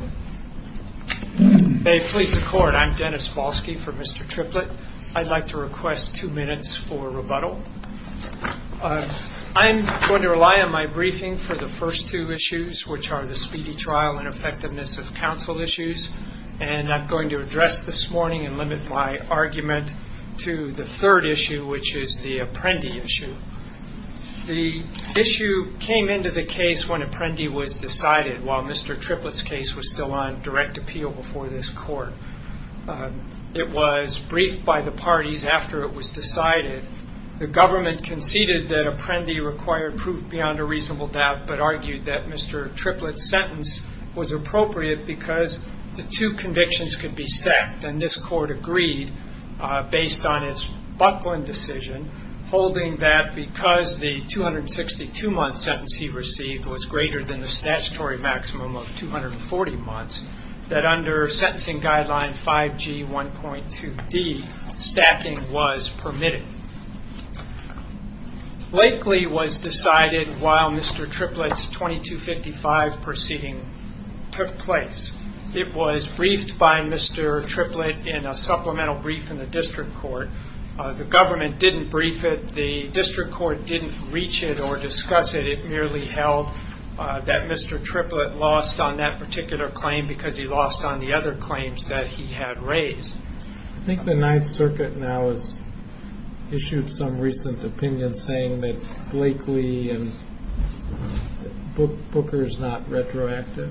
I'm going to rely on my briefing for the first two issues, which are the speedy trial and effectiveness of counsel issues. I'm going to address this morning and limit my argument to the third issue, which is the Apprendi issue. The issue came into the case when Apprendi was decided, while Mr. Triplett's case was still on direct appeal before this court. It was briefed by the parties after it was decided. The government conceded that Apprendi required proof beyond a reasonable doubt, but argued that Mr. Triplett's sentence was appropriate because the two convictions could be stacked. And this court agreed, based on its Buckland decision, holding that because the 262-month sentence he received was greater than the statutory maximum of 240 months, that under sentencing guideline 5G1.2D, stacking was permitted. Blakely was decided while Mr. Triplett's 2255 proceeding took place. It was briefed by Mr. Triplett in a supplemental brief in the district court. The government didn't brief it. The district court didn't reach it or discuss it. It merely held that Mr. Triplett lost on that particular claim because he lost on the other claims that he had raised. I think the Ninth Circuit now has issued some recent opinion saying that Blakely and Booker is not retroactive.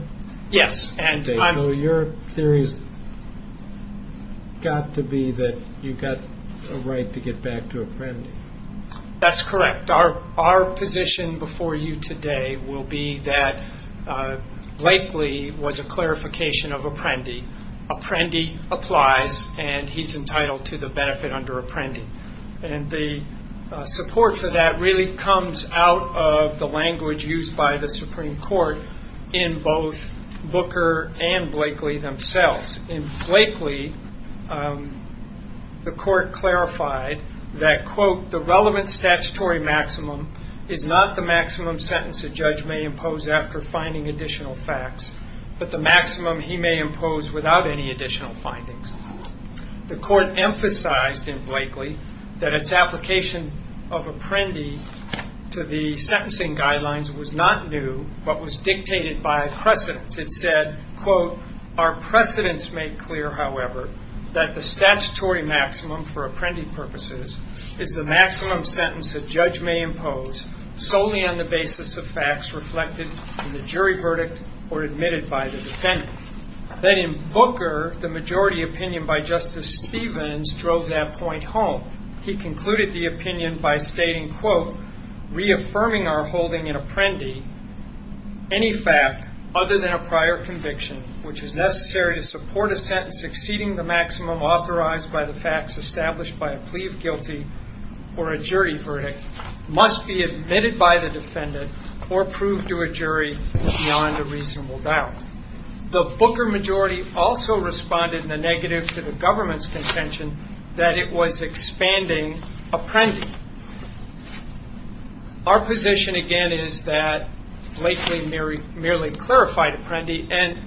Yes. So your theory has got to be that you've got a right to get back to Apprendi. That's correct. Our position before you today will be that Blakely was a clarification of Apprendi. Apprendi applies and he's entitled to the benefit under Apprendi. And the support for that really comes out of the language used by the Supreme Court in both Booker and Blakely themselves. In Blakely, the court clarified that, quote, the relevant statutory maximum is not the maximum sentence a judge may impose after finding additional facts, but the maximum he may impose without any additional findings. The court emphasized in Blakely that its application of Apprendi to the sentencing guidelines was not new, but was dictated by a precedence. It said, quote, our precedence made clear, however, that the statutory maximum for Apprendi purposes is the maximum sentence a judge may impose solely on the basis of facts reflected in the jury verdict or admitted by the defendant. Then in Booker, the majority opinion by Justice Stevens drove that point home. He concluded the opinion by stating, quote, reaffirming our holding in Apprendi, any fact other than a prior conviction which is necessary to support a sentence exceeding the maximum authorized by the facts established by a plea of guilty or a jury verdict must be admitted by the defendant or proved to a jury beyond a reasonable doubt. The Booker majority also responded in a negative to the government's contention that it was expanding Apprendi. Our position, again, is that Blakely merely clarified Apprendi, and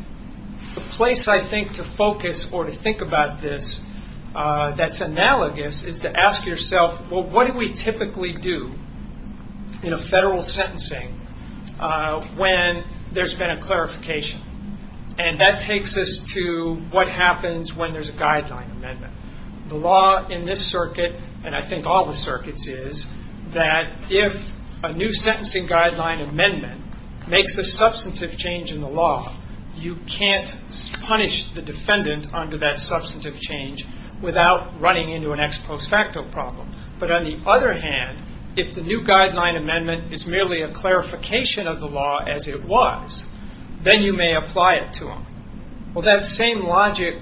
the place, I think, to focus or to think about this that's analogous is to ask yourself, well, what do we typically do in a federal sentencing when there's been a clarification? And that takes us to what happens when there's a guideline amendment. The law in this circuit and I think all the circuits is that if a new sentencing guideline amendment makes a substantive change in the law, you can't punish the defendant under that substantive change without running into an ex post facto problem. But on the other hand, if the new guideline amendment is merely a clarification of the law as it was, then you may apply it to him. Well, that same logic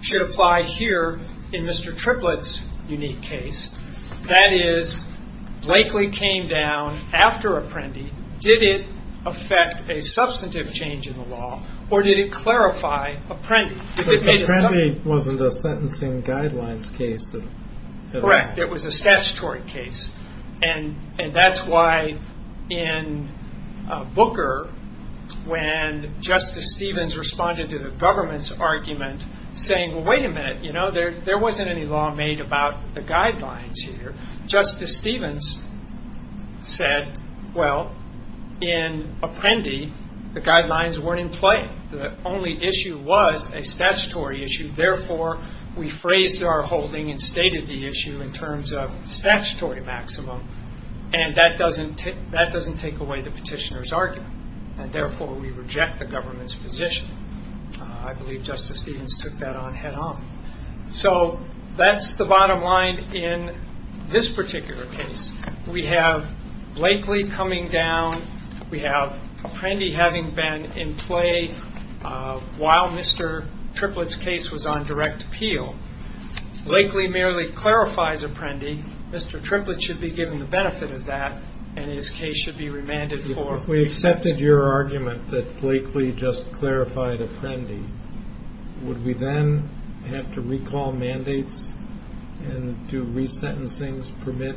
should apply here in Mr. Triplett's unique case. That is, Blakely came down after Apprendi. Did it affect a substantive change in the law, or did it clarify Apprendi? If Apprendi wasn't a sentencing guidelines case, then... Correct. It was a statutory case. And that's why in Booker, when Justice Stevens responded to the government's argument saying, well, wait a minute, you know, there wasn't any law made about the guidelines here. Justice Stevens said, well, in Apprendi, the guidelines weren't in play. The only issue was a statutory issue. Therefore, we phrased our holding and stated the issue in terms of statutory maximum. And that doesn't take away the petitioner's argument. And therefore, we reject the government's position. I believe Justice Stevens took that on head on. So that's the bottom line in this particular case. We have Blakely coming down. We have Apprendi having been in play while Mr. Triplett's case was on direct appeal. Blakely merely clarifies Apprendi. Mr. Triplett should be given the benefit of that, and his case should be remanded for... If we accepted your argument that Blakely just clarified Apprendi, would we then have to recall mandates and do resentencings, permit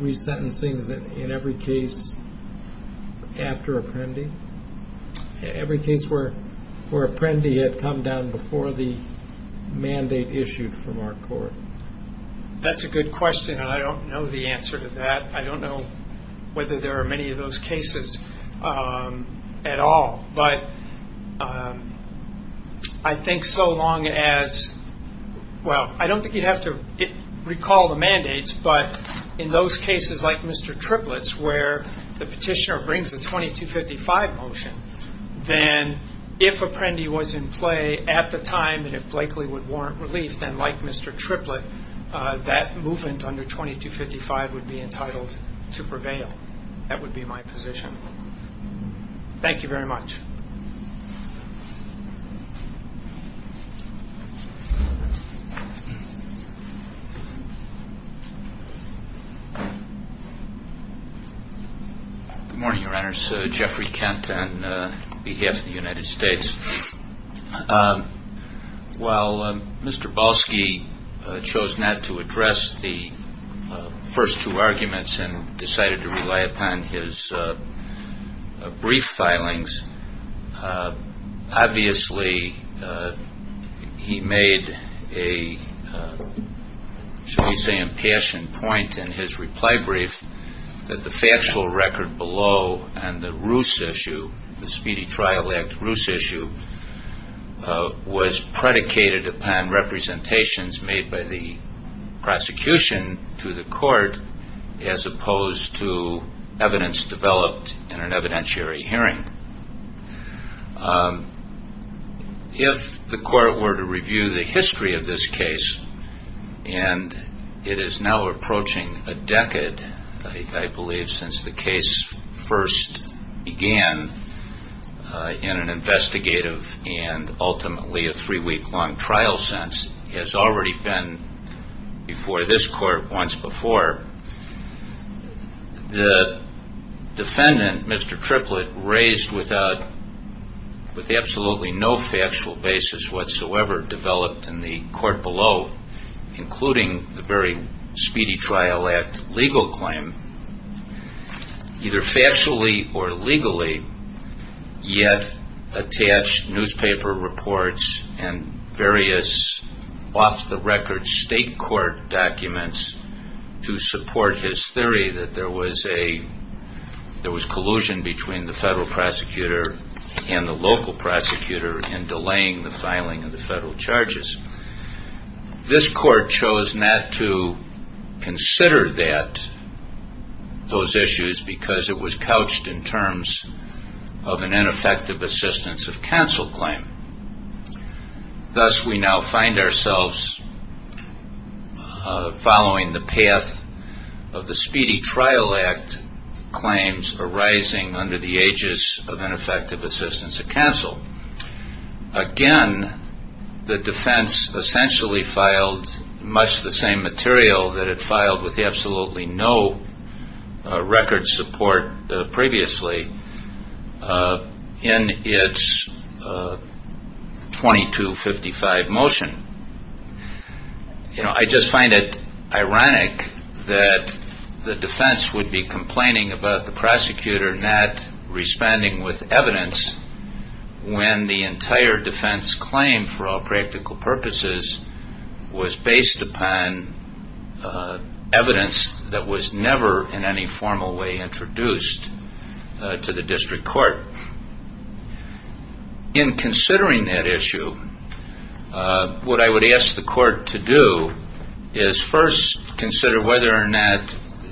resentencings in every case after Apprendi? Every case where Apprendi had come down before the mandate issued from our court? That's a good question, and I don't know the answer to that. I don't know whether there Well, I don't think you'd have to recall the mandates, but in those cases like Mr. Triplett's where the petitioner brings a 2255 motion, then if Apprendi was in play at the time and if Blakely would warrant relief, then like Mr. Triplett, that movement under 2255 would be entitled to prevail. That would be my position. Thank you very much. Good morning, Your Honors. Jeffrey Kent on behalf of the United States. While Mr. Balski chose not to address the first two arguments and decided to rely upon his brief filings, obviously he made a, shall we say, impassioned point in his reply brief that the factual record below on the Roos issue, the Speedy Trial Act Roos issue, was predicated upon representations made by the prosecution to the court as opposed to evidence developed in an evidentiary hearing. If the court were to review the history of this case, and it is now approaching a decade, I believe, since the case first began in an investigative and ultimately a three-week-long trial sense, has already been before this court once before, the defendant, Mr. Triplett, raised without, with absolutely no factual basis whatsoever developed in the court below, including the very Speedy Trial Act legal claim, either factually or legally, yet attached newspaper reports and various off-the-record state court documents to support his theory that there was collusion between the federal prosecutor and the local prosecutor in delaying the filing of the federal charges. This court chose not to consider that, those issues, because it was couched in terms of an ineffective assistance of counsel claim. Thus, we now find ourselves following the path of the Speedy Trial Act claims arising under the ages of ineffective assistance of counsel. Again, the defense essentially filed much the same material that it filed with absolutely no record support previously in its 2255 motion. I just find it ironic that the defense would be complaining about the prosecutor not responding with evidence when the entire defense claim for all practical introduced to the district court. In considering that issue, what I would ask the court to do is first consider whether or not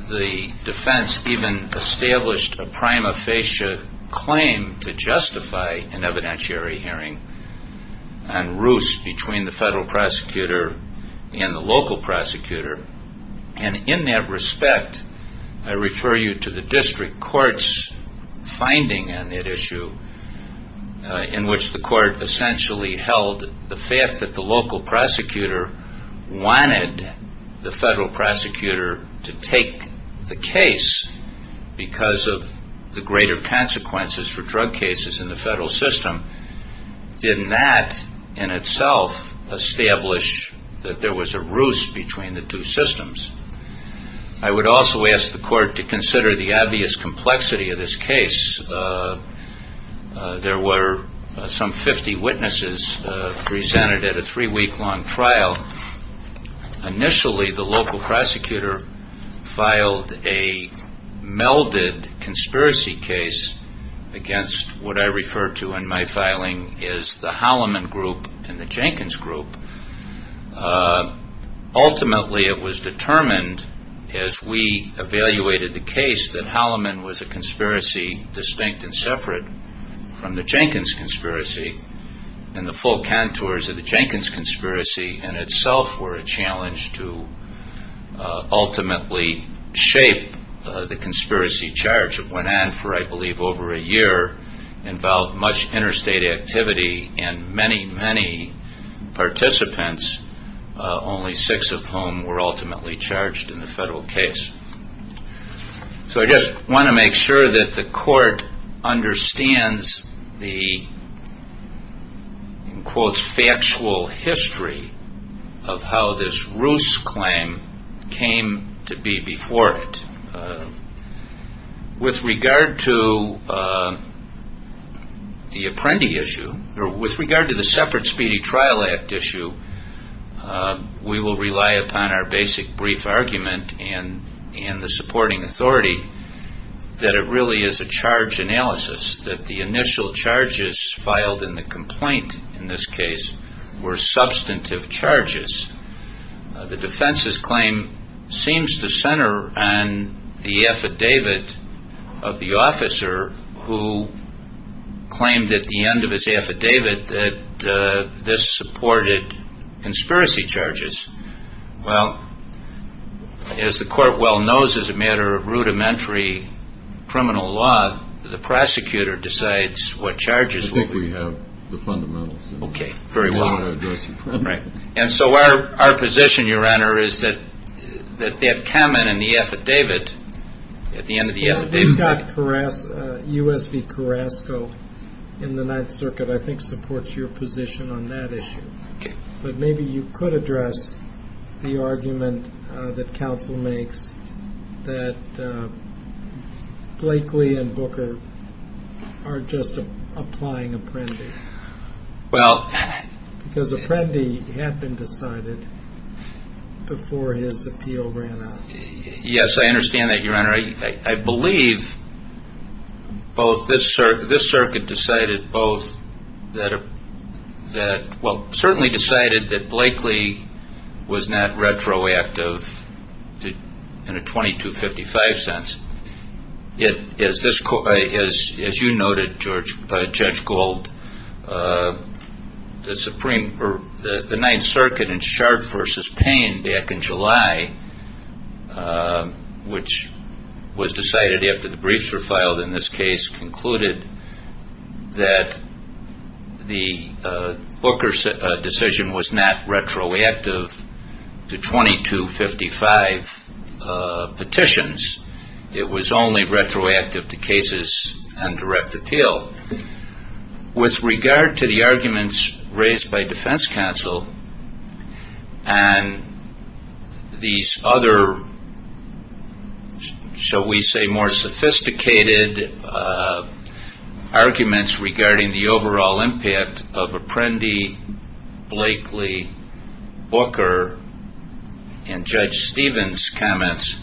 the defense even established a prima facie claim to justify an evidentiary hearing on roost between the federal prosecutor and the local prosecutor. In that respect, I refer you to the district court's finding on that issue in which the court essentially held the fact that the local prosecutor wanted the federal prosecutor to take the case because of the greater consequences for drug cases in the federal system. Did that in itself establish that there was a roost between the two systems? I would also ask the court to consider the obvious complexity of this case. There were some 50 witnesses presented at a three-week-long trial. Initially, the local prosecutor filed a melded conspiracy case against what I refer to in my Ultimately, it was determined, as we evaluated the case, that Halliman was a conspiracy distinct and separate from the Jenkins conspiracy. The full contours of the Jenkins conspiracy in itself were a challenge to ultimately shape the conspiracy charge. It went on for, I believe, over a year, involved much interstate activity and many, many participants, only six of whom were ultimately charged in the federal case. I just want to make sure that the court understands the quote, factual history of how this roost claim came to be before it. With regard to the Apprendi issue, or with regard to the Separate Speedy Trial Act issue, we will rely upon our basic brief argument and the supporting authority that it really is a charge analysis, that the initial charges filed in the complaint, in this case, were substantive charges. The defense's claim seems to center on the affidavit of the officer who claimed at the end of his affidavit that this supported conspiracy charges. Well, as the court well knows, as a matter of rudimentary criminal law, the prosecutor decides what charges will be. I think we have the fundamentals. Okay, very well. Right. And so our position, your honor, is that that comment in the affidavit, at the end of the affidavit. You've got U.S. v. Carrasco in the Ninth Circuit, I think supports your position on that Apprendi and Booker are just applying Apprendi. Well, because Apprendi had been decided before his appeal ran out. Yes, I understand that, your honor. I believe both this circuit decided both that, well, certainly decided that Blakely was not retroactive in a 2255 sense. As you noted, Judge Gold, the Ninth Circuit in Sharp v. Payne back in July, which was decided after the briefs were retroactive to 2255 petitions. It was only retroactive to cases and direct appeal. With regard to the arguments raised by defense counsel and these other, shall we say, more sophisticated arguments regarding the overall impact of Apprendi, Blakely, Booker, and Judge Stevens' comments,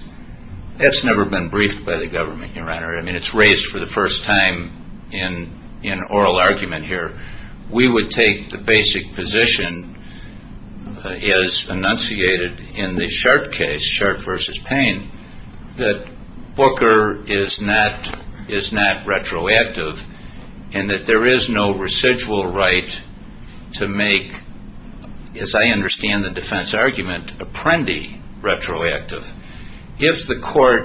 that's never been briefed by the government, your honor. I mean, it's raised for the first time in oral argument here. We would take the basic position as enunciated in the Sharp case, Sharp v. Payne, that Booker is not retroactive and that there is no residual right to make, as I understand the defense argument, Apprendi retroactive. Well,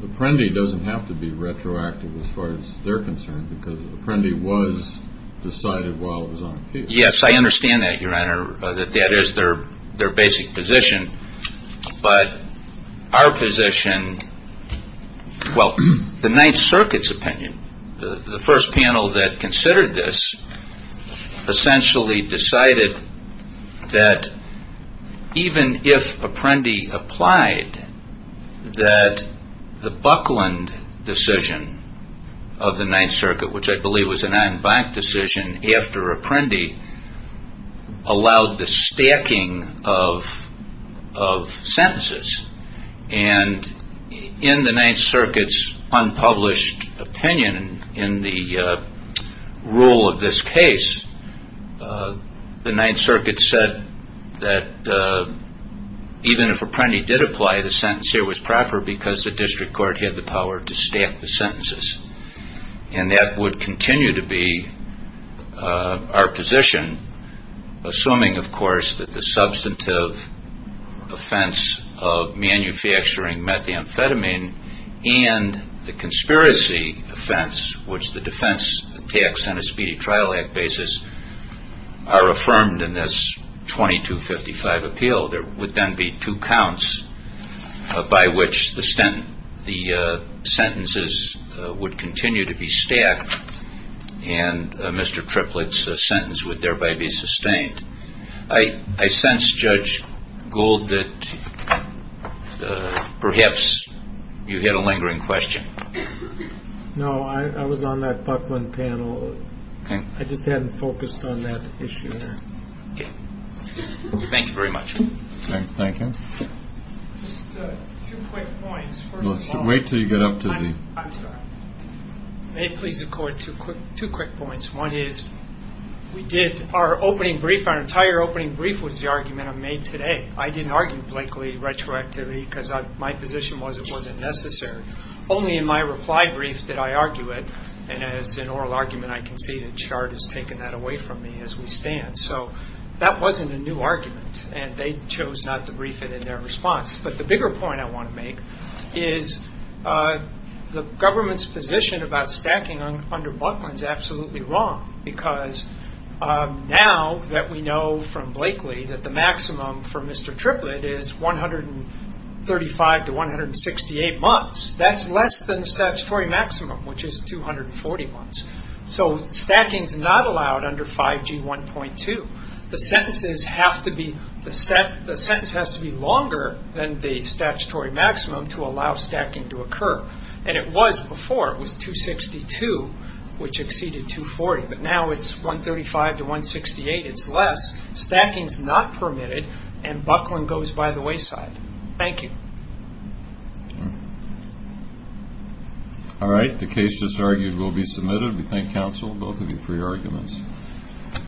Apprendi doesn't have to be retroactive as far as they're concerned because Apprendi was decided while it was on appeal. Yes, I understand that, your honor, that that is their basic position, but our position, well, the Ninth Circuit's opinion, the first panel that considered this, essentially decided that even if Apprendi applied, that the Buckland decision of the Ninth Circuit, which I believe was an en banc decision after Apprendi, allowed the stacking of sentences. And in the Ninth Circuit's unpublished opinion in the rule of this case, the Ninth Circuit said that even if Apprendi did apply, the sentence here was proper because the district court had the power to stack the sentences. And that would continue to be our position, assuming, of course, that the substantive offense of manufacturing methamphetamine and the conspiracy offense, which the defense attacks on a speedy trial act basis, are affirmed in this 2255 appeal. There would then be two counts by which the sentences would continue to be stacked and Mr. Triplett's sentence would thereby be sustained. I sense, Judge Gould, that perhaps you had a lingering question. No, I was on that Buckland panel. I just hadn't focused on that issue. Thank you very much. Okay, thank you. Just two quick points. Let's wait till you get up to me. I'm sorry. May it please the court, two quick points. One is, we did our opening brief, our entire opening brief was the argument I made today. I didn't argue Blakely retroactivity because my position was it wasn't necessary. Only in my reply brief did I argue it. And as an oral argument, I conceded. Chard has taken that from me as we stand. That wasn't a new argument and they chose not to brief it in their response. But the bigger point I want to make is the government's position about stacking under Buckland is absolutely wrong because now that we know from Blakely that the maximum for Mr. Triplett is 135 to 168 months. That's less than the statutory maximum, which is 240 months. So stacking is not allowed under 5G 1.2. The sentence has to be longer than the statutory maximum to allow stacking to occur. And it was before. It was 262, which exceeded 240. But now it's 135 to 168. It's less. Stacking is not permitted and Buckland goes by the wayside. Thank you. All right. The case just argued will be submitted. We thank counsel both of you for your arguments.